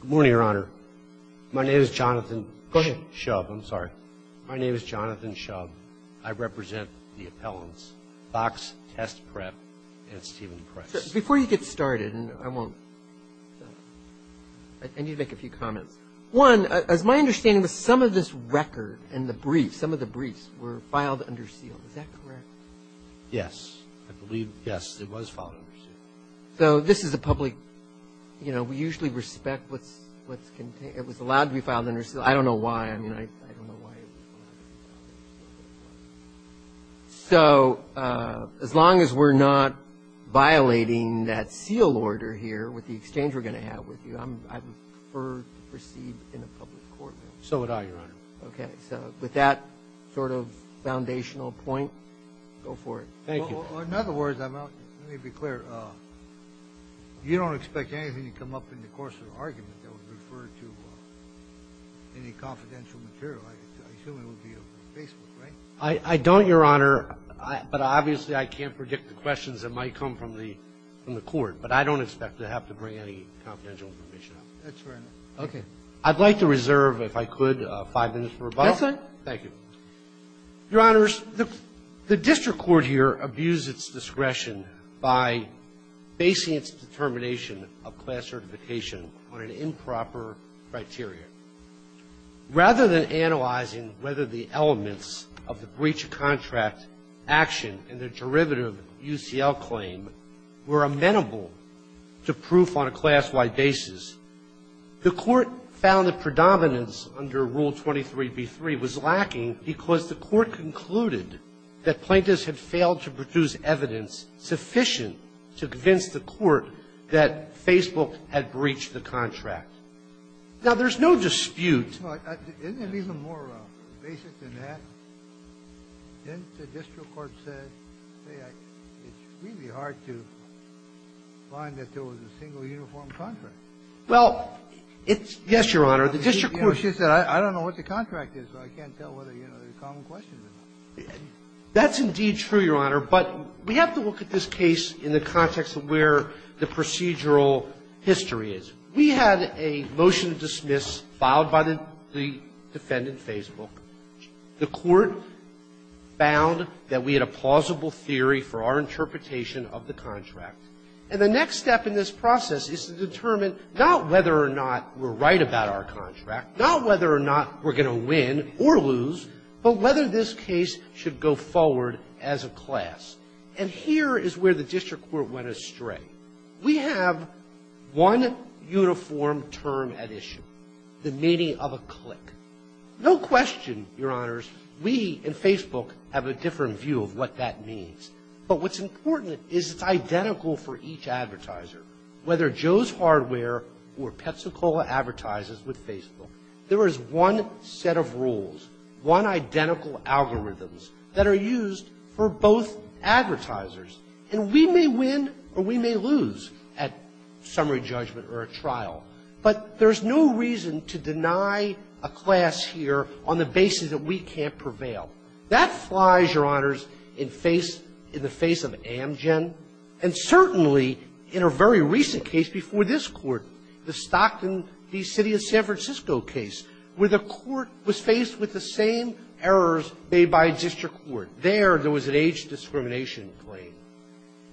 Good morning, Your Honor. My name is Jonathan Shub. I'm sorry. My name is Jonathan Shub. I represent the appellants, Fox Test Prep and Stephen Price. Before you get started, and I won't – I need to make a few comments. One, as my understanding is, some of this record and the briefs, some of the briefs were filed under seal. Is that correct? Yes. I believe, yes, it was filed under seal. So this is a public – you know, we usually respect what's – it was allowed to be filed under seal. I don't know why. I mean, I don't know why it was allowed to be filed under seal. So as long as we're not violating that seal order here with the exchange we're going to have with you, I would prefer to proceed in a public court. So would I, Your Honor. Okay. So with that sort of foundational point, go for it. Thank you. Well, in other words, I'm not – let me be clear. You don't expect anything to come up in the course of the argument that would refer to any confidential material. I assume it would be over Facebook, right? I don't, Your Honor. But obviously, I can't predict the questions that might come from the court. But I don't expect to have to bring any confidential information up. That's fair enough. Okay. I'd like to reserve, if I could, five minutes for rebuttal. That's all right. Thank you. Your Honors, the district court here abused its discretion by basing its determination of class certification on an improper criteria. Rather than analyzing whether the elements of the breach of contract action in the derivative UCL claim were amenable to proof on a class-wide basis, the Court found that predominance under Rule 23b3 was lacking because the Court concluded that plaintiffs had failed to produce evidence sufficient to convince the Court that Facebook had breached the contract. Now, there's no dispute. Isn't it even more basic than that? Didn't the district court say, hey, it's really hard to find that there was a single uniform contract? Well, it's yes, Your Honor. The district court said, I don't know what the contract is, so I can't tell whether there are common questions or not. That's indeed true, Your Honor. But we have to look at this case in the context of where the procedural history is. We had a motion to dismiss filed by the defendant, Facebook. The Court found that we had a plausible theory for our interpretation of the contract. And the next step in this process is to determine not whether or not we're right about our contract, not whether or not we're going to win or lose, but whether this case should go forward as a class. And here is where the district court went astray. We have one uniform term at issue, the meaning of a click. No question, Your Honors, we in Facebook have a different view of what that means. But what's important is it's identical for each advertiser, whether Joe's Hardware or Petsacola advertises with Facebook. There is one set of rules, one identical algorithms that are used for both advertisers. And we may win or we may lose at summary judgment or a trial. But there's no reason to deny a class here on the basis that we can't prevail. That flies, Your Honors, in the face of Amgen and certainly in a very recent case before this Court, the Stockton v. City of San Francisco case, where the Court was faced with the same errors made by district court. There, there was an age discrimination claim.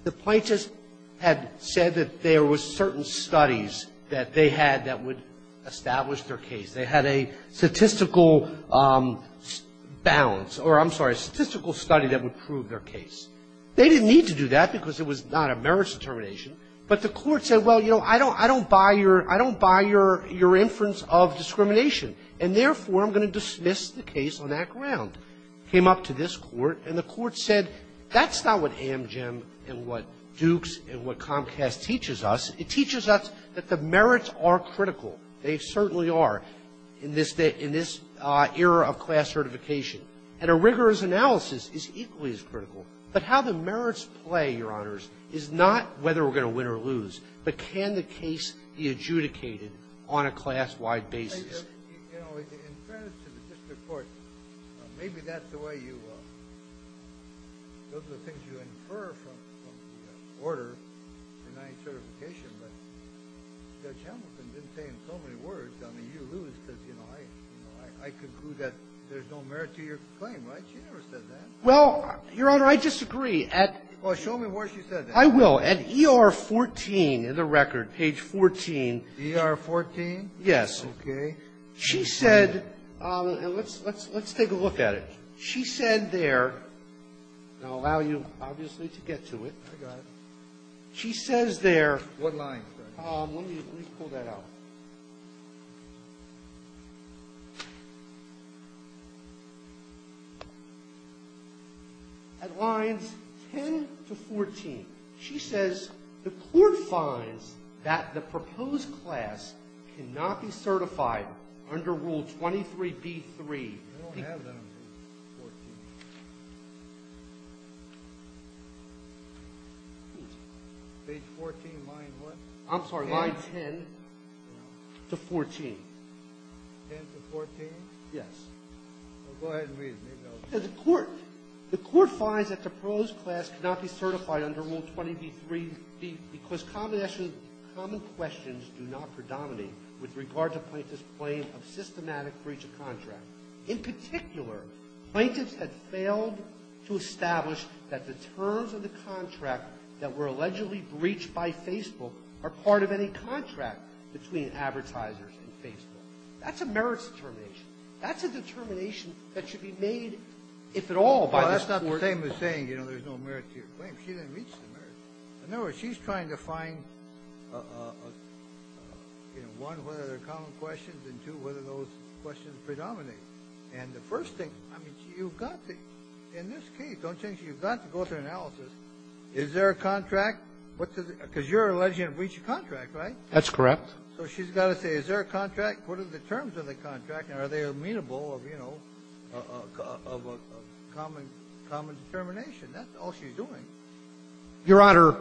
The plaintiffs had said that there were certain studies that they had that would establish their case. They had a statistical balance, or I'm sorry, a statistical study that would prove their case. They didn't need to do that because it was not a merits determination. But the Court said, well, you know, I don't buy your inference of discrimination, and therefore I'm going to dismiss the case on that ground. Came up to this Court, and the Court said, that's not what Amgen and what Dukes and what Comcast teaches us. It teaches us that the merits are critical. They certainly are in this era of class certification. And a rigorous analysis is equally as critical. But how the merits play, Your Honors, is not whether we're going to win or lose, but can the case be adjudicated on a class-wide basis. Well, Your Honor, I disagree. Well, show me where she said that. I will. At ER 14 in the record, page 14. ER 14? Yes. Okay. She said, and let's take a look at it. She said there, and I'll allow you, obviously, to get to it. I got it. She says there. What line? Let me pull that out. At lines 10 to 14, she says the Court finds that the proposed class cannot be certified under Rule 23b-3. Page 14, line what? I'm sorry, line 10 to 14. 10 to 14? Yes. Well, go ahead and read it. The Court finds that the proposed class cannot be certified under Rule 23b-3 because common questions do not predominate with regard to plaintiffs' claim of systematic breach of contract. In particular, plaintiffs had failed to establish that the terms of the contract that were allegedly breached by Facebook are part of any contract between advertisers and Facebook. That's a merits determination. That's a determination that should be made, if at all, by the Court. Well, that's not the same as saying, you know, there's no merit to your claim. She didn't reach the merits. In other words, she's trying to find, you know, one, whether there are common questions, and two, whether those questions predominate. And the first thing, I mean, you've got to, in this case, don't you think, you've got to go through analysis. Is there a contract? Because you're alleging a breach of contract, right? That's correct. So she's got to say, is there a contract? What are the terms of the contract? And are they amenable of, you know, of a common determination? That's all she's doing. Your Honor,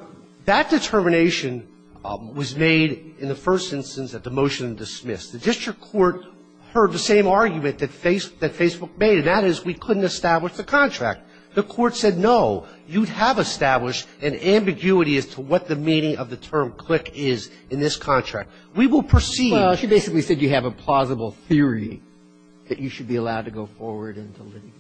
that determination was made in the first instance at the motion dismissed. The district court heard the same argument that Facebook made, and that is we couldn't establish the contract. The Court said, no, you have established an ambiguity as to what the meaning of the term CLIC is in this contract. We will proceed. Well, she basically said you have a plausible theory that you should be allowed to go forward into litigation.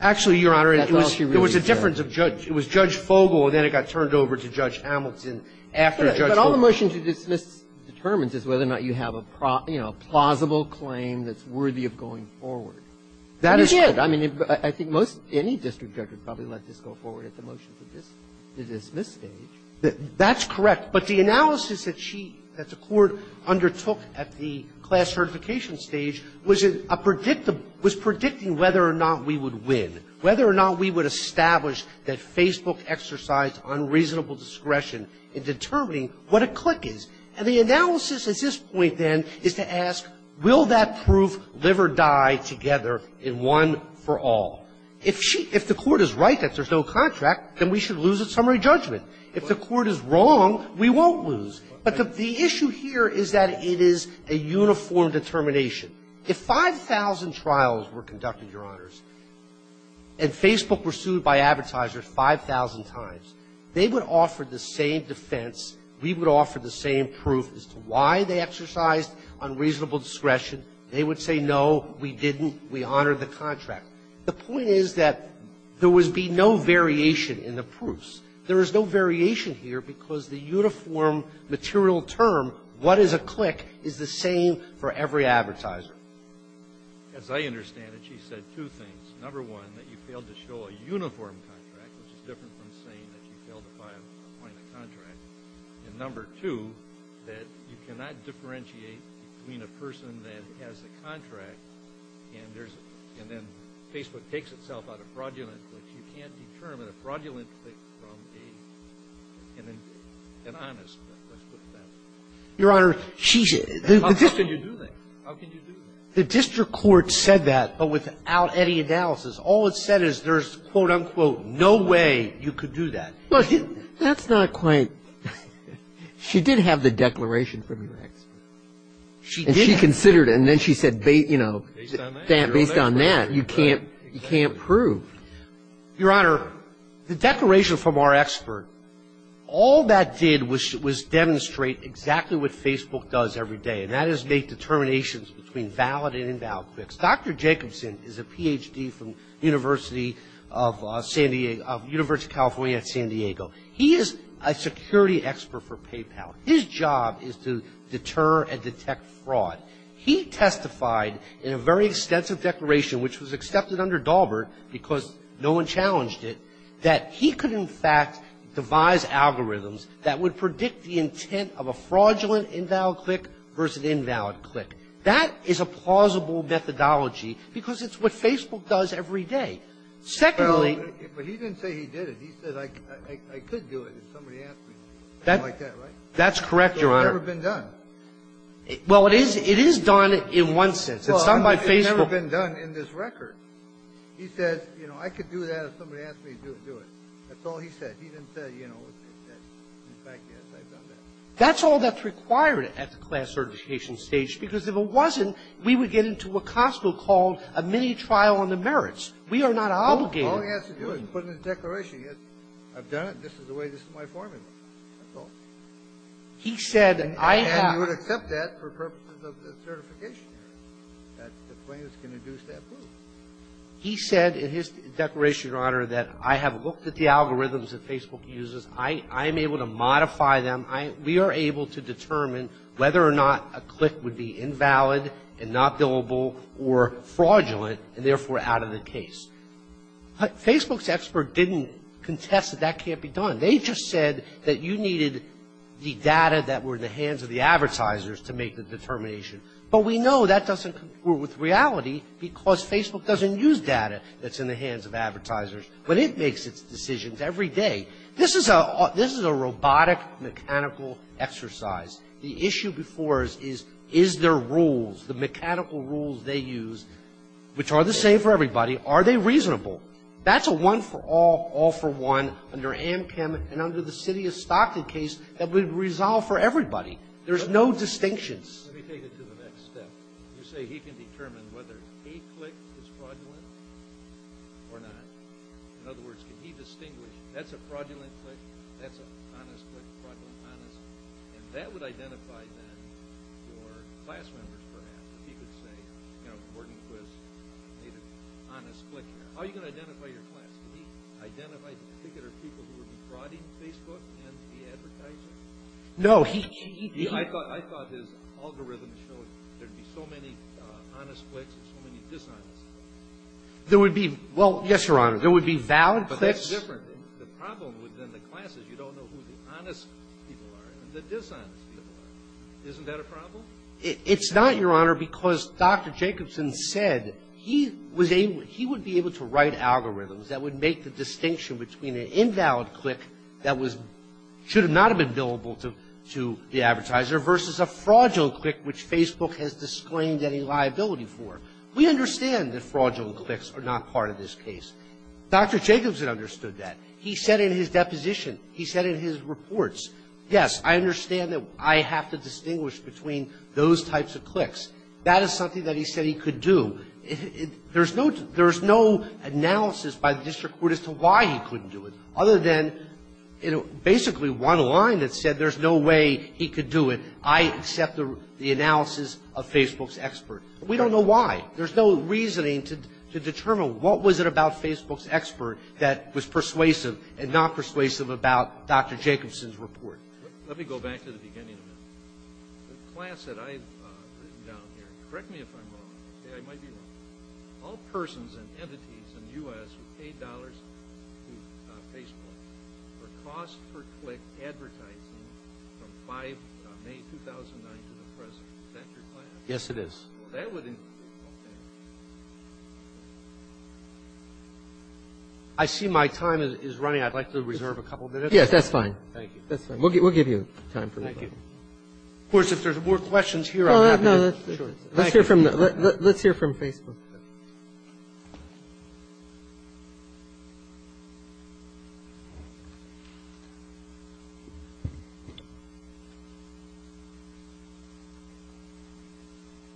Actually, Your Honor, it was a difference of judge. It was Judge Fogel, and then it got turned over to Judge Hamilton after Judge Fogel. But all the motion to dismiss determines is whether or not you have a, you know, plausible claim that's worthy of going forward. That is correct. I mean, I think most any district judge would probably let this go forward at the motion to dismiss stage. That's correct. But the analysis that she, that the Court undertook at the class certification stage was a predictable, was predicting whether or not we would win, whether or not we would establish that Facebook exercised unreasonable discretion in determining what a CLIC is. And the analysis at this point, then, is to ask, will that proof live or die together in one for all? If she, if the Court is right that there's no contract, then we should lose its summary judgment. If the Court is wrong, we won't lose. But the issue here is that it is a uniform determination. If 5,000 trials were conducted, Your Honors, and Facebook were sued by advertisers 5,000 times, they would offer the same defense, we would offer the same proof as to why they exercised unreasonable discretion. They would say, no, we didn't, we honored the contract. The point is that there would be no variation in the proofs. There is no variation here because the uniform material term, what is a CLIC, is the same for every advertiser. As I understand it, she said two things. Number one, that you failed to show a uniform contract, which is different from saying that you failed to buy a, appoint a contract. And number two, that you cannot differentiate between a person that has a contract and there's, and then Facebook takes itself out of fraudulent CLICs. You can't determine a fraudulent CLIC from a, an honest, let's put it that way. Your Honor, she's the District Court said that, but without any analysis. All it said is there's, quote, unquote, no way you could do that. That's not quite, she did have the declaration from your expert. She considered it, and then she said, you know, based on that, you can't prove. Your Honor, the declaration from our expert, all that did was, was demonstrate exactly what Facebook does every day, and that is make determinations between valid and invalid CLICs. Dr. Jacobson is a Ph.D. from University of San Diego, of University of California at San Diego. He is a security expert for PayPal. His job is to deter and detect fraud. He testified in a very extensive declaration, which was accepted under Daubert because no one challenged it, that he could, in fact, devise algorithms that would predict the intent of a fraudulent invalid CLIC versus an invalid CLIC. That is a plausible methodology because it's what Facebook does every day. Secondly — Well, but he didn't say he did it. He said, I could do it if somebody asked me. Something like that, right? That's correct, Your Honor. But it's never been done. Well, it is, it is done in one sense. It's done by Facebook — Well, it's never been done in this record. He says, you know, I could do that if somebody asked me to do it. That's all he said. He didn't say, you know, in fact, yes, I've done that. That's all that's required at the class certification stage, because if it wasn't, we would get into what Costco called a mini-trial on the merits. We are not obligated. All he has to do is put in his declaration, yes, I've done it. This is the way, this is my formula. That's all. He said, I have — You would accept that for purposes of the certification area, that plaintiffs can induce that rule. He said in his declaration, Your Honor, that I have looked at the algorithms that Facebook uses. I am able to modify them. I — we are able to determine whether or not a click would be invalid and not billable or fraudulent and, therefore, out of the case. Facebook's expert didn't contest that that can't be done. They just said that you needed the data that were in the hands of the advertisers to make the determination. But we know that doesn't conclude with reality, because Facebook doesn't use data that's in the hands of advertisers, but it makes its decisions every day. This is a — this is a robotic, mechanical exercise. The issue before us is, is there rules, the mechanical rules they use, which are the same for everybody, are they reasonable? That's a one-for-all, all-for-one under Amchem and under the city of Stockton case that would resolve for everybody. There's no distinctions. Let me take it to the next step. You say he can determine whether a click is fraudulent or not. In other words, can he distinguish, that's a fraudulent click, that's an honest click, fraudulent, honest, and that would identify, then, for class members, perhaps, if he could say, you know, Gordon Quist made an honest click here. How are you going to identify your class? Can he identify the particular people who would be frauding Facebook and the advertisers? No, he — I thought his algorithm showed there'd be so many honest clicks and so many dishonest clicks. There would be — well, yes, Your Honor, there would be valid clicks. But that's different. The problem within the class is you don't know who the honest people are and the dishonest people are. Isn't that a problem? It's not, Your Honor, because Dr. Jacobson said he was able — he would be able to write algorithms that would make the distinction between an invalid click that was — should not have been billable to the advertiser versus a fraudulent click which Facebook has disclaimed any liability for. We understand that fraudulent clicks are not part of this case. Dr. Jacobson understood that. He said in his deposition, he said in his reports, yes, I understand that I have to accept those types of clicks. That is something that he said he could do. There's no — there's no analysis by the district court as to why he couldn't do it other than, you know, basically one line that said there's no way he could do it. I accept the analysis of Facebook's expert. We don't know why. There's no reasoning to determine what was it about Facebook's expert that was persuasive and not persuasive about Dr. Jacobson's report. Let me go back to the beginning of it. The class that I've written down here, correct me if I'm wrong, okay, I might be wrong. All persons and entities in the U.S. who paid dollars to Facebook for cost-per-click advertising from 5 — May 2009 to the present, is that your class? Yes, it is. That would include — okay. I see my time is running. I'd like to reserve a couple minutes. Yes, that's fine. That's fine. We'll give you time for that. Thank you. Of course, if there's more questions here, I'm happy to — No, no. Let's hear from — let's hear from Facebook.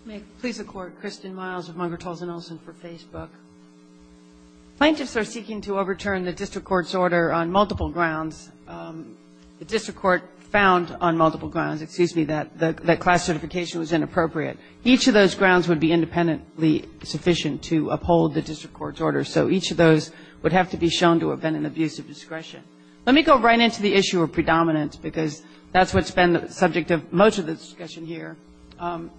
May it please the Court, Kristen Miles with Margaret Talzin Olson for Facebook. Plaintiffs are seeking to overturn the district court's order on multiple grounds. The district court found on multiple grounds — excuse me, that class certification was inappropriate. Each of those grounds would be independently sufficient to uphold the district court's order. So each of those would have to be shown to have been an abuse of discretion. Let me go right into the issue of predominance because that's what's been the subject of most of the discussion here.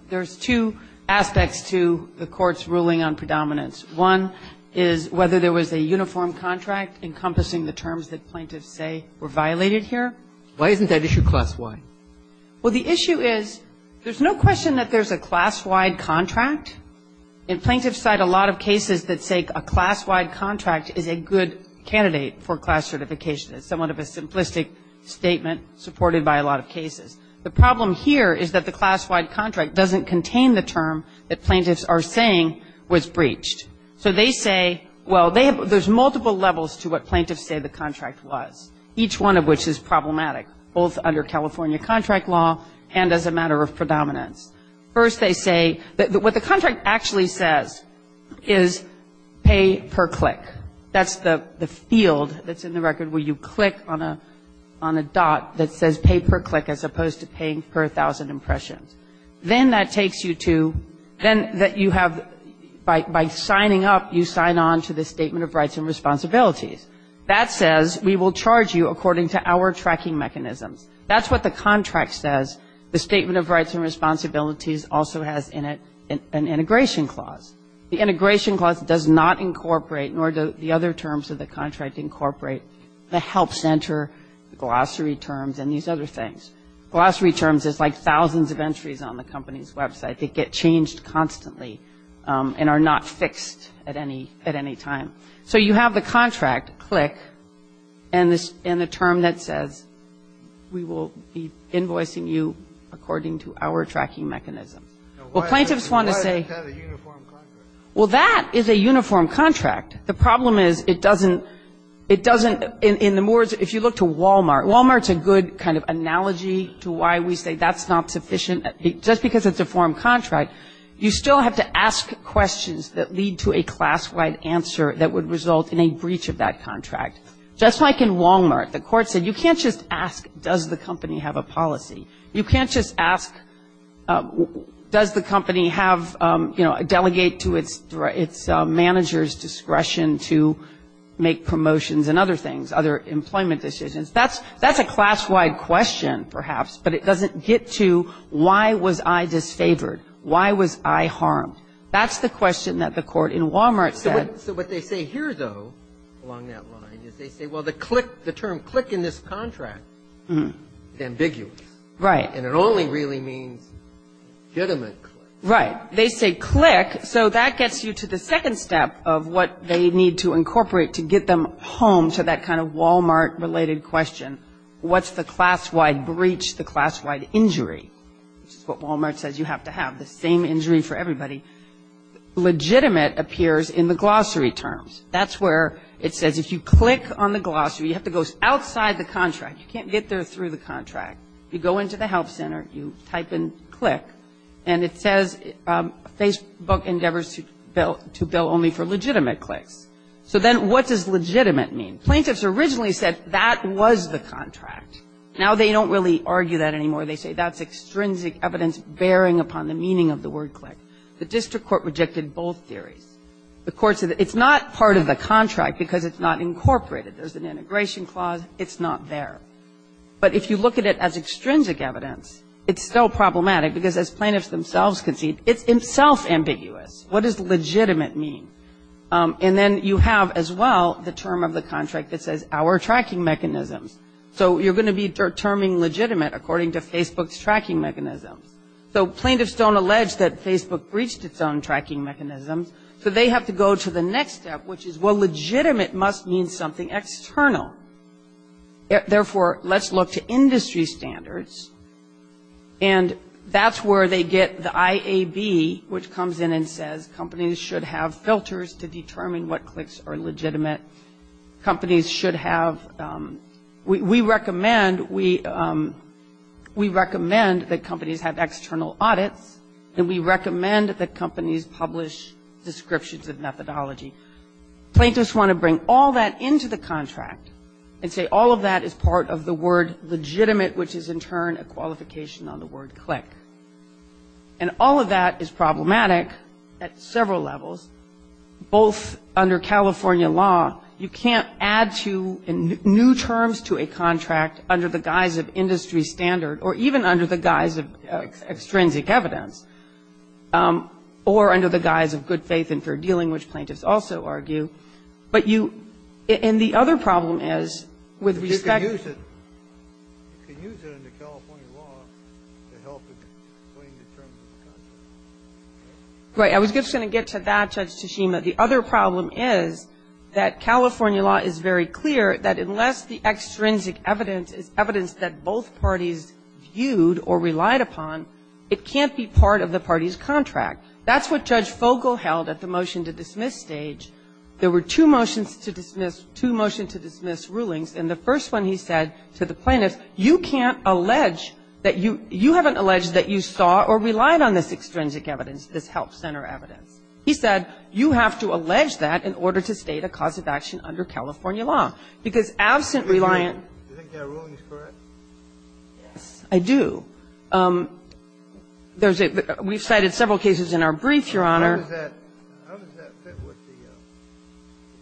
There's two aspects to the court's ruling on predominance. One is whether there was a uniform contract encompassing the terms that plaintiffs say were violated here. Why isn't that issue class-wide? Well, the issue is there's no question that there's a class-wide contract. And plaintiffs cite a lot of cases that say a class-wide contract is a good candidate for class certification. It's somewhat of a simplistic statement supported by a lot of cases. The problem here is that the class-wide contract doesn't contain the term that plaintiffs are saying was breached. So they say — well, there's multiple levels to what plaintiffs say the contract was, each one of which is problematic, both under California contract law and as a matter of predominance. First, they say — what the contract actually says is pay per click. That's the field that's in the record where you click on a dot that says pay per click as opposed to paying per 1,000 impressions. Then that takes you to — then that you have — by signing up, you sign on to the Statement of Rights and Responsibilities. That says we will charge you according to our tracking mechanisms. That's what the contract says. The Statement of Rights and Responsibilities also has in it an integration clause. The integration clause does not incorporate, nor do the other terms of the contract incorporate, the help center, the glossary terms, and these other things. Glossary terms is like thousands of entries on the company's website that get changed constantly and are not fixed at any time. So you have the contract, click, and the term that says we will be invoicing you according to our tracking mechanisms. Well, plaintiffs want to say — Why is it kind of a uniform contract? Well, that is a uniform contract. The problem is it doesn't — it doesn't — in the words — if you look to Walmart, Walmart's a good kind of analogy to why we say that's not sufficient. Just because it's a form contract, you still have to ask questions that lead to a class-wide answer that would result in a breach of that contract. Just like in Walmart, the court said you can't just ask, does the company have a policy? You can't just ask, does the company have, you know, a delegate to its manager's discretion to make promotions and other things, other employment decisions? That's a class-wide question, perhaps, but it doesn't get to why was I disfavored? Why was I harmed? That's the question that the court in Walmart said. So what they say here, though, along that line, is they say, well, the click — the term click in this contract is ambiguous. Right. And it only really means legitimate click. Right. They say click, so that gets you to the second step of what they need to incorporate to get them home to that kind of Walmart-related question. What's the class-wide breach, the class-wide injury? Which is what Walmart says you have to have, the same injury for everybody. Legitimate appears in the glossary terms. That's where it says if you click on the glossary, you have to go outside the contract. You can't get there through the contract. You go into the help center, you type in click, and it says Facebook endeavors to bill only for legitimate clicks. So then what does legitimate mean? Plaintiffs originally said that was the contract. Now they don't really argue that anymore. They say that's extrinsic evidence bearing upon the meaning of the word click. The district court rejected both theories. The court said it's not part of the contract because it's not incorporated. There's an integration clause. It's not there. But if you look at it as extrinsic evidence, it's still problematic, because as plaintiffs themselves concede, it's itself ambiguous. What does legitimate mean? And then you have, as well, the term of the contract that says our tracking mechanisms. So you're going to be terming legitimate according to Facebook's tracking mechanisms. So plaintiffs don't allege that Facebook breached its own tracking mechanisms. So they have to go to the next step, which is, well, legitimate must mean something external. Therefore, let's look to industry standards. And that's where they get the IAB, which comes in and says companies should have filters to determine what clicks are legitimate. Companies should have we recommend that companies have external audits, and we recommend that companies publish descriptions of methodology. Plaintiffs want to bring all that into the contract and say all of that is part of the word legitimate, which is, in turn, a qualification on the word click. And all of that is problematic at several levels, both under California law. You can't add to new terms to a contract under the guise of industry standard or even under the guise of extrinsic evidence or under the guise of good faith and fair dealing, which plaintiffs also argue. But you – and the other problem is, with respect to – But you can use it. You can use it under California law to help a plaintiff term the contract. Right. I was just going to get to that, Judge Tashima. The other problem is that California law is very clear that unless the extrinsic evidence is evidence that both parties viewed or relied upon, it can't be part of the party's contract. That's what Judge Fogle held at the motion-to-dismiss stage. There were two motions to dismiss – two motion-to-dismiss rulings, and the first one he said to the plaintiffs, you can't allege that you – you haven't alleged that you saw or relied on this extrinsic evidence, this help center evidence. He said, you have to allege that in order to state a cause of action under California law. Because absent reliant – Do you think their ruling is correct? Yes, I do. There's a – we've cited several cases in our brief, Your Honor. How does that fit with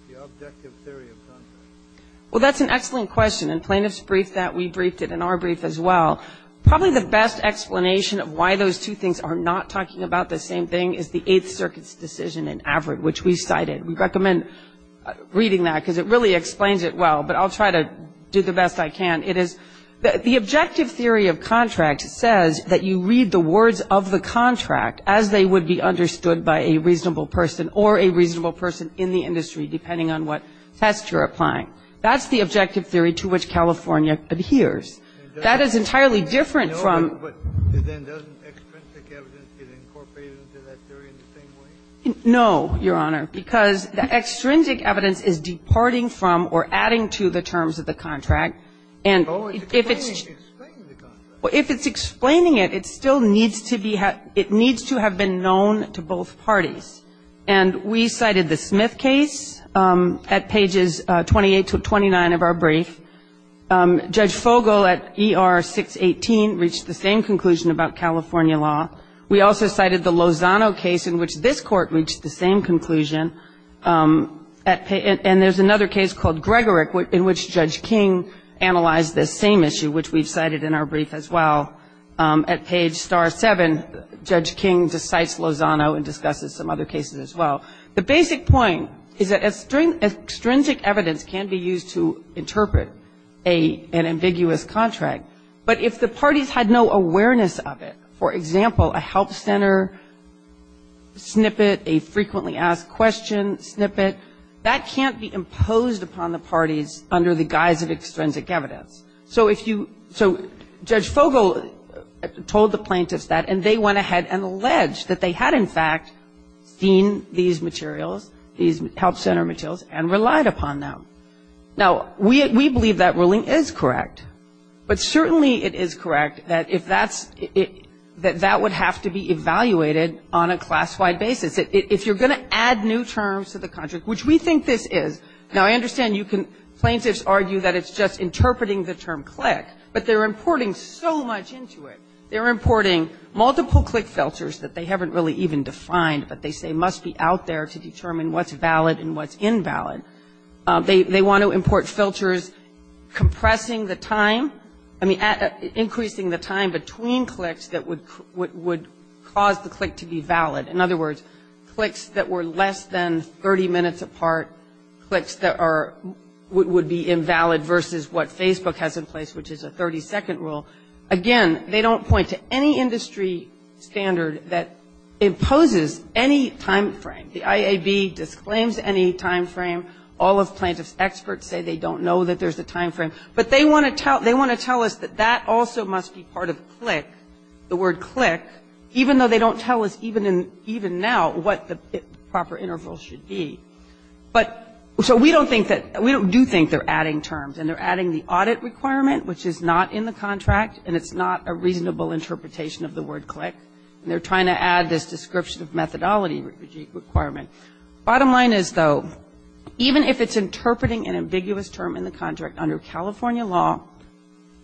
the objective theory of contract? Well, that's an excellent question. And plaintiffs briefed that. We briefed it in our brief as well. Probably the best explanation of why those two things are not talking about the same thing is the Eighth Circuit's decision in Averitt, which we cited. We recommend reading that because it really explains it well. But I'll try to do the best I can. It is – the objective theory of contract says that you read the words of the contract as they would be understood by a reasonable person or a reasonable person in the industry, depending on what test you're applying. That's the objective theory to which California adheres. That is entirely different from – But then doesn't extrinsic evidence get incorporated into that theory in the same way? No, Your Honor, because the extrinsic evidence is departing from or adding to the terms of the contract, and if it's – Oh, it's explaining the contract. If it's explaining it, it still needs to be – it needs to have been known to both parties. And we cited the Smith case at pages 28 to 29 of our brief. Judge Fogel at ER 618 reached the same conclusion about California law. We also cited the Lozano case in which this Court reached the same conclusion. And there's another case called Gregorick in which Judge King analyzed this same issue, which we've cited in our brief as well. At page star 7, Judge King cites Lozano and discusses some other cases as well. The basic point is that extrinsic evidence can be used to interpret an ambiguous contract, but if the parties had no awareness of it, for example, a help center snippet, a frequently asked question snippet, that can't be imposed upon the parties under the guise of extrinsic evidence. So if you – so Judge Fogel told the plaintiffs that, and they went ahead and alleged that they had in fact seen these materials, these help center materials, and relied upon them. Now, we believe that ruling is correct, but certainly it is correct that if that's – that that would have to be evaluated on a class-wide basis. If you're going to add new terms to the contract, which we think this is – now, I understand you can – plaintiffs argue that it's just interpreting the term click, but they're importing so much into it. They're importing multiple click filters that they haven't really even defined, but they say must be out there to determine what's valid and what's invalid. They want to import filters compressing the time – I mean, increasing the time between clicks that would cause the click to be valid. In other words, clicks that were less than 30 minutes apart, clicks that are – would be invalid versus what Facebook has in place, which is a 30-second rule. Again, they don't point to any industry standard that imposes any timeframe. The IAB disclaims any timeframe. All of plaintiffs' experts say they don't know that there's a timeframe. But they want to tell – they want to tell us that that also must be part of click, the word click, even though they don't tell us even now what the proper interval should be. But – so we don't think that – we do think they're adding terms, and they're adding the audit requirement, which is not in the contract, and it's not a reasonable interpretation of the word click. And they're trying to add this description of methodology requirement. Bottom line is, though, even if it's interpreting an ambiguous term in the contract under California law,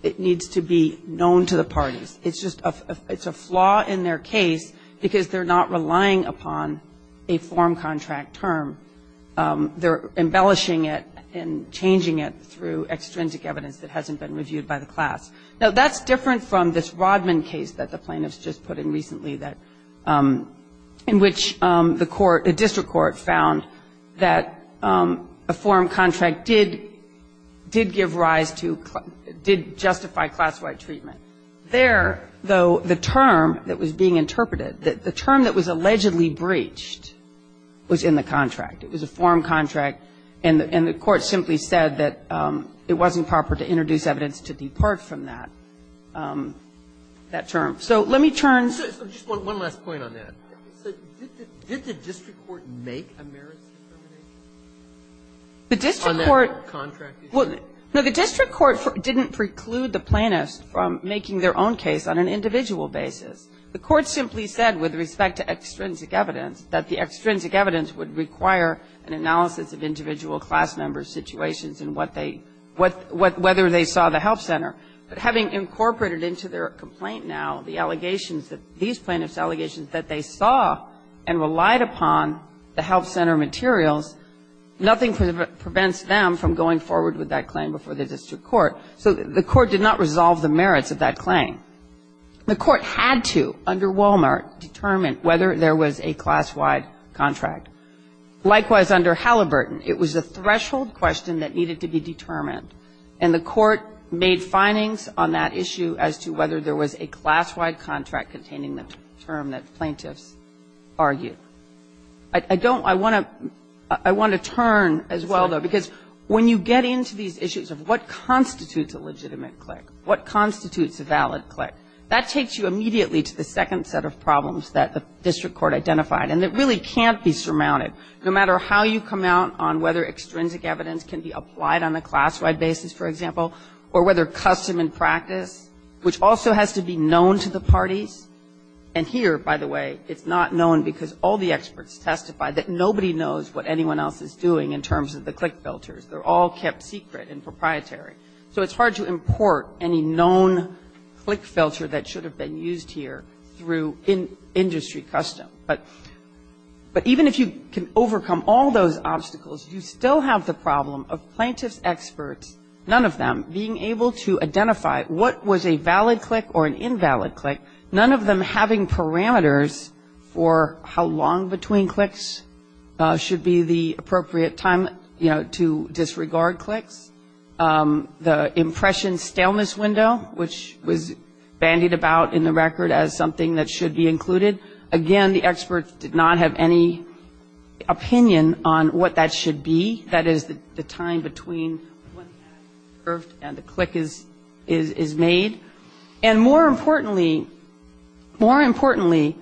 it needs to be known to the parties. It's just a – it's a flaw in their case because they're not relying upon a form contract term. They're embellishing it and changing it through extrinsic evidence that hasn't been reviewed by the class. Now, that's different from this Rodman case that the plaintiffs just put in recently that – in which the court – the district court found that a form contract did give rise to – did justify class-wide treatment. There, though, the term that was being interpreted, the term that was allegedly breached, was in the contract. It was a form contract, and the court simply said that it wasn't proper to introduce evidence to depart from that – that term. So let me turn to the court. So just one last point on that. Did the district court make a merits determination on that contract? Well, no. The district court didn't preclude the plaintiffs from making their own case on an individual basis. The court simply said with respect to extrinsic evidence that the extrinsic evidence would require an analysis of individual class member situations and what they – whether they saw the health center. But having incorporated into their complaint now the allegations that – these plaintiffs' allegations that they saw and relied upon the health center materials, nothing prevents them from going forward with that claim before the district court. So the court did not resolve the merits of that claim. The court had to, under Walmart, determine whether there was a class-wide contract. Likewise, under Halliburton, it was a threshold question that needed to be determined. And the court made findings on that issue as to whether there was a class-wide contract containing the term that plaintiffs argued. I don't – I want to – I want to turn as well, though, because when you get into these issues of what constitutes a legitimate clique, what constitutes a valid clique, that takes you immediately to the second set of problems that the district court identified and that really can't be surmounted, no matter how you come out on whether extrinsic evidence can be applied on a class-wide basis, for example, or whether custom and practice, which also has to be known to the parties. And here, by the way, it's not known because all the experts testify that nobody knows what anyone else is doing in terms of the clique filters. They're all kept secret and proprietary. So it's hard to import any known clique filter that should have been used here through industry custom. But even if you can overcome all those obstacles, you still have the problem of plaintiffs' experts, none of them, being able to identify what was a valid clique or an invalid clique, none of them having parameters for how long between cliques should be the appropriate time, you know, to disregard cliques. The impression staleness window, which was bandied about in the record as something that should be included, again, the experts did not have any opinion on what that should be, that is, the time between when the ad is surfed and the clique is made. And more importantly, more importantly,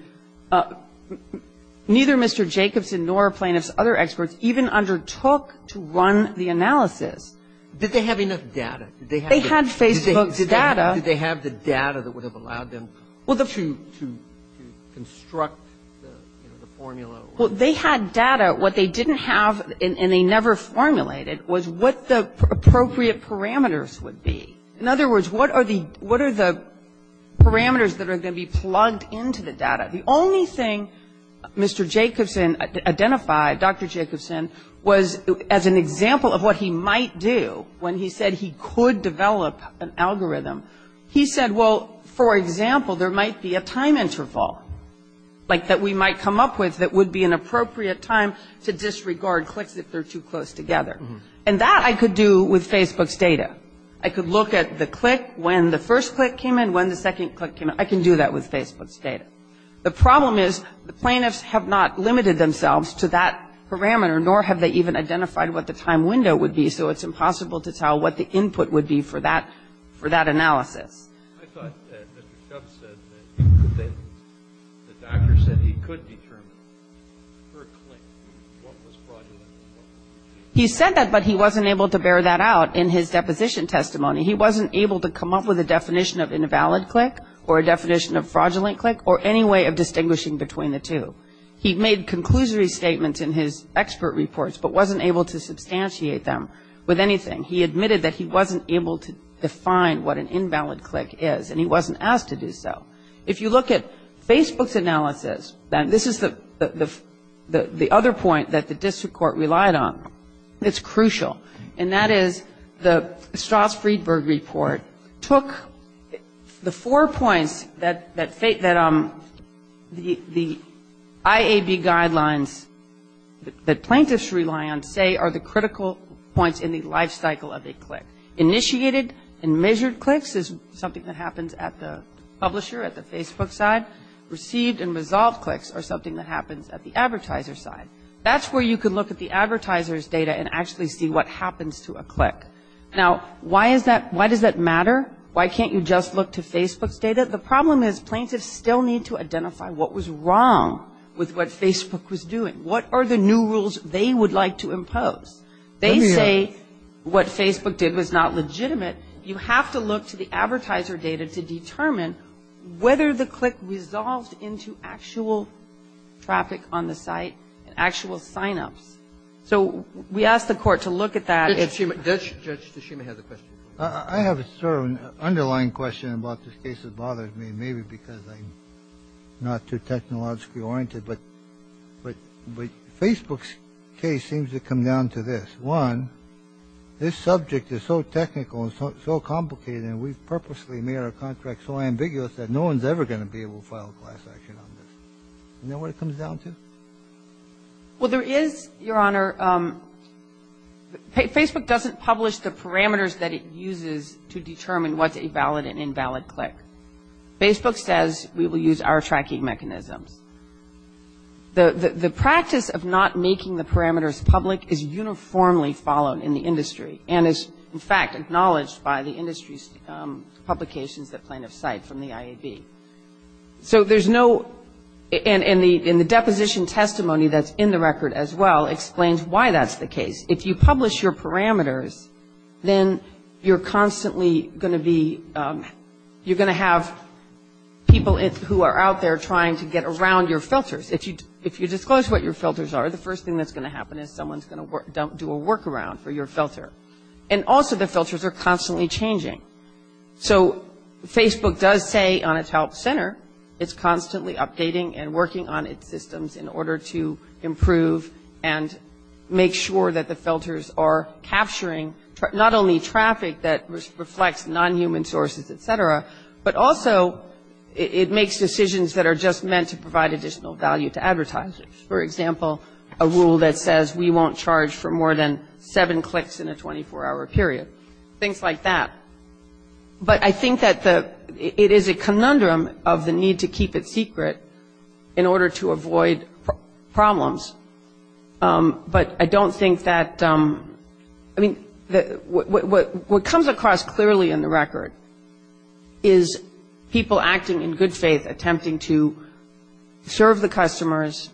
neither Mr. Jacobson nor plaintiffs' other experts even undertook to run the analysis. Did they have enough data? They had Facebook's data. Did they have the data that would have allowed them to construct the formula? Well, they had data. What they didn't have and they never formulated was what the appropriate parameters would be. In other words, what are the parameters that are going to be plugged into the data? The only thing Mr. Jacobson identified, Dr. Jacobson, was as an example of what he might do when he said he could develop an algorithm, he said, well, for example, there might be a time interval, like, that we might come up with that would be an appropriate time to disregard cliques if they're too close together. And that I could do with Facebook's data. I could look at the clique when the first clique came in, when the second clique came in. I can do that with Facebook's data. The problem is the plaintiffs have not limited themselves to that parameter, nor have they even identified what the time window would be, so it's impossible to tell what the input would be for that analysis. I thought that Mr. Jacobson said that the doctor said he could determine for a clique what was fraudulent. He said that, but he wasn't able to bear that out in his deposition testimony. He wasn't able to come up with a definition of invalid clique or a definition of fraudulent clique or any way of distinguishing between the two. He made conclusory statements in his expert reports, but wasn't able to substantiate them with anything. He admitted that he wasn't able to define what an invalid clique is, and he wasn't asked to do so. If you look at Facebook's analysis, and this is the other point that the district court relied on, it's crucial, and that is the Strauss-Friedberg report took the four points that the IAB guidelines that plaintiffs rely on say are the critical points in the lifestyle cycle of a clique. Initiated and measured cliques is something that happens at the publisher, at the Facebook side. Received and resolved cliques are something that happens at the advertiser's side. That's where you can look at the advertiser's data and actually see what happens to a clique. Now, why is that, why does that matter? Why can't you just look to Facebook's data? The problem is plaintiffs still need to identify what was wrong with what Facebook was doing. What are the new rules they would like to impose? They say what Facebook did was not legitimate. You have to look to the advertiser data to determine whether the clique resolved into actual traffic on the site, actual sign-ups. So we asked the court to look at that. Roberts. Judge Toshima has a question. Toshima. I have a sort of underlying question about this case that bothers me, maybe because I'm not too technologically oriented. But Facebook's case seems to come down to this. One, this subject is so technical and so complicated and we've purposely made our contract so ambiguous that no one's ever going to be able to file a class action on this. You know what it comes down to? Well, there is, Your Honor, Facebook doesn't publish the parameters that it uses to determine what's a valid and invalid clique. Facebook says we will use our tracking mechanisms. The practice of not making the parameters public is uniformly followed in the industry and is, in fact, acknowledged by the industry's publications that plaintiffs cite from the IAB. So there's no, and the deposition testimony that's in the record as well explains why that's the case. If you publish your parameters, then you're constantly going to be, you're going to have people who are out there trying to get around your filters. If you disclose what your filters are, the first thing that's going to happen is someone's going to do a workaround for your filter. And also the filters are constantly changing. So Facebook does say on its help center it's constantly updating and working on its systems in order to capturing not only traffic that reflects non-human sources, et cetera, but also it makes decisions that are just meant to provide additional value to advertisers. For example, a rule that says we won't charge for more than seven cliques in a 24-hour period, things like that. But I think that the, it is a conundrum of the need to keep it secret in order to avoid problems. But I don't think that, I mean, what comes across clearly in the record is people acting in good faith, attempting to serve the customers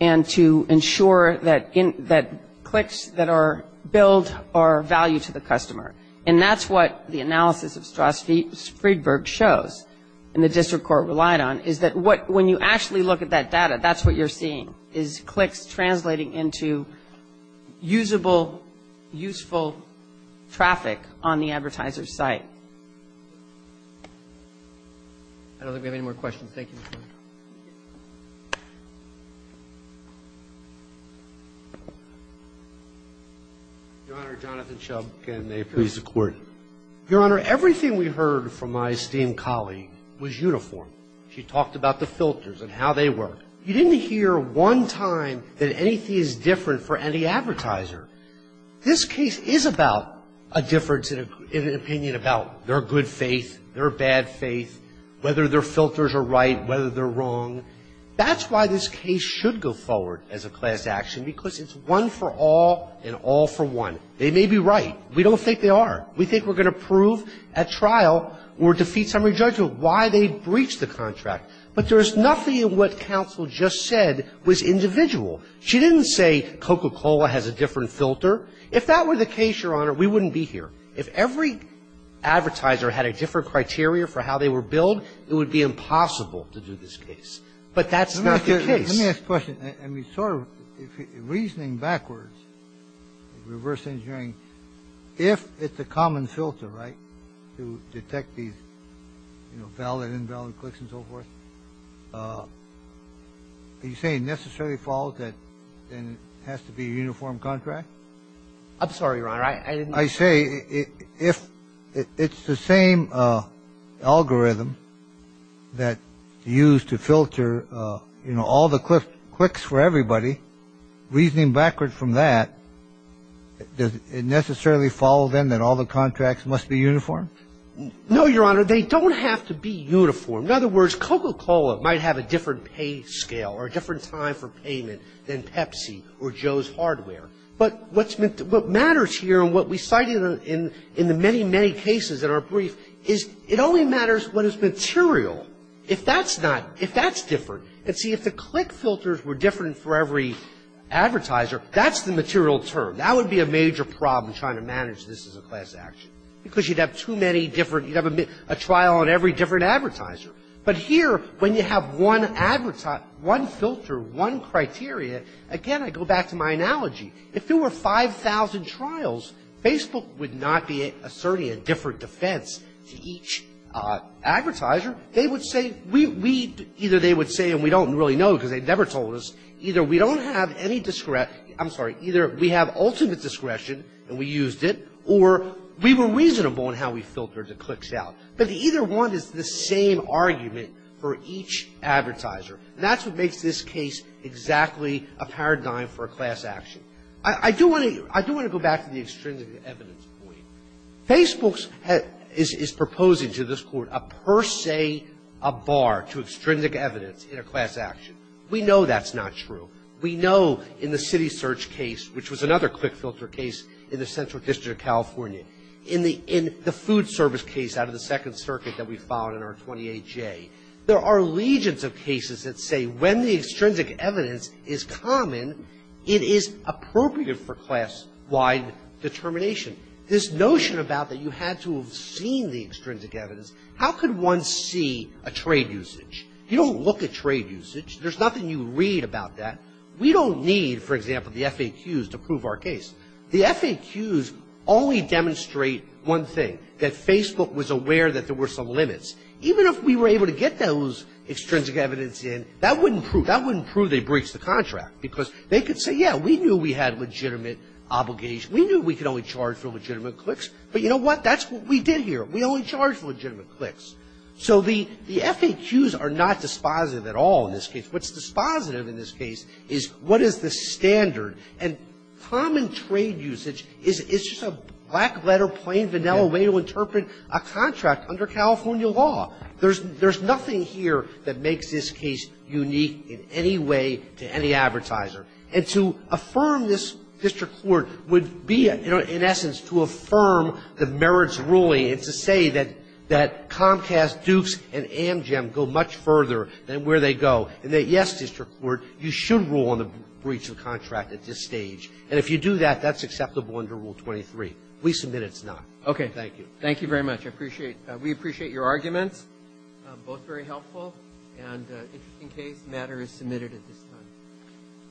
and to ensure that cliques that are billed are of value to the customer. And that's what the analysis of Straus-Friedberg shows and the district court relied on, is that what, when you actually look at that data, that's what you're seeing, is cliques translating into usable, useful traffic on the advertiser's site. I don't think we have any more questions. Thank you. Your Honor, Jonathan Chubb. Your Honor, everything we heard from my esteemed colleague was uniform. She talked about the filters and how they work. You didn't hear one time that anything is different for any advertiser. This case is about a difference in an opinion about their good faith, their bad faith, whether their filters are right, whether they're wrong. That's why this case should go forward as a class action, because it's one for all and all for one. They may be right. We don't think they are. We think we're going to prove at trial or defeat summary judgment why they breached the contract. But there is nothing in what counsel just said was individual. She didn't say Coca-Cola has a different filter. If that were the case, Your Honor, we wouldn't be here. If every advertiser had a different criteria for how they were billed, it would be impossible to do this case. But that's not the case. Let me ask a question. And we sort of reasoning backwards, reverse engineering, if it's a common filter, right. To detect these valid, invalid clicks and so forth. Are you saying necessary fault that has to be a uniform contract? I'm sorry, Ron. I didn't. I say if it's the same algorithm that used to filter, you know, all the clicks for everybody, reasoning backwards from that, does it necessarily follow then that all the contracts must be uniform? No, Your Honor. They don't have to be uniform. In other words, Coca-Cola might have a different pay scale or a different time for payment than Pepsi or Joe's Hardware. But what matters here and what we cited in the many, many cases in our brief is it only matters what is material. If that's not, if that's different, and see if the click filters were different for every advertiser, that's the material term. That would be a major problem trying to manage this as a class action, because you'd have too many different, you'd have a trial on every different advertiser. But here, when you have one filter, one criteria, again, I go back to my analogy. If there were 5,000 trials, Facebook would not be asserting a different defense to each advertiser. They would say, we, we, either they would say, and we don't really know because they never told us, either we don't have any, I'm sorry, either we have ultimate discretion and we used it, or we were reasonable in how we filtered the clicks out. But either one is the same argument for each advertiser. And that's what makes this case exactly a paradigm for a class action. I do want to, I do want to go back to the extrinsic evidence point. Facebook has, is proposing to this Court a per se, a bar to extrinsic evidence in a class action. We know that's not true. We know in the city search case, which was another click filter case in the Central District of California, in the, in the food service case out of the Second Circuit that we found in our 28J, there are legions of cases that say when the extrinsic evidence is common, it is appropriate for class-wide determination. This notion about that you had to have seen the extrinsic evidence, how could one see a trade usage? You don't look at trade usage. There's nothing you read about that. We don't need, for example, the FAQs to prove our case. The FAQs only demonstrate one thing, that Facebook was aware that there were some limits. Even if we were able to get those extrinsic evidence in, that wouldn't prove, that wouldn't prove they breached the contract because they could say, yeah, we knew we had legitimate obligation. We knew we could only charge for legitimate clicks, but you know what? That's what we did here. We only charged legitimate clicks. So the, the FAQs are not dispositive at all in this case. What's dispositive in this case is what is the standard? And common trade usage is, is just a black letter, plain, vanilla way to interpret a contract under California law. There's, there's nothing here that makes this case unique in any way to any advertiser. And to affirm this district court would be, you know, in essence, to affirm the merits ruling and to say that, that Comcast, Dukes, and Amgen go much further than where they go, and that, yes, district court, you should rule on the breach of the contract at this stage. And if you do that, that's acceptable under Rule 23. We submit it's not. Okay. Thank you. Roberts. Thank you very much. I appreciate it. We appreciate your arguments, both very helpful. And in case matter is submitted at this time.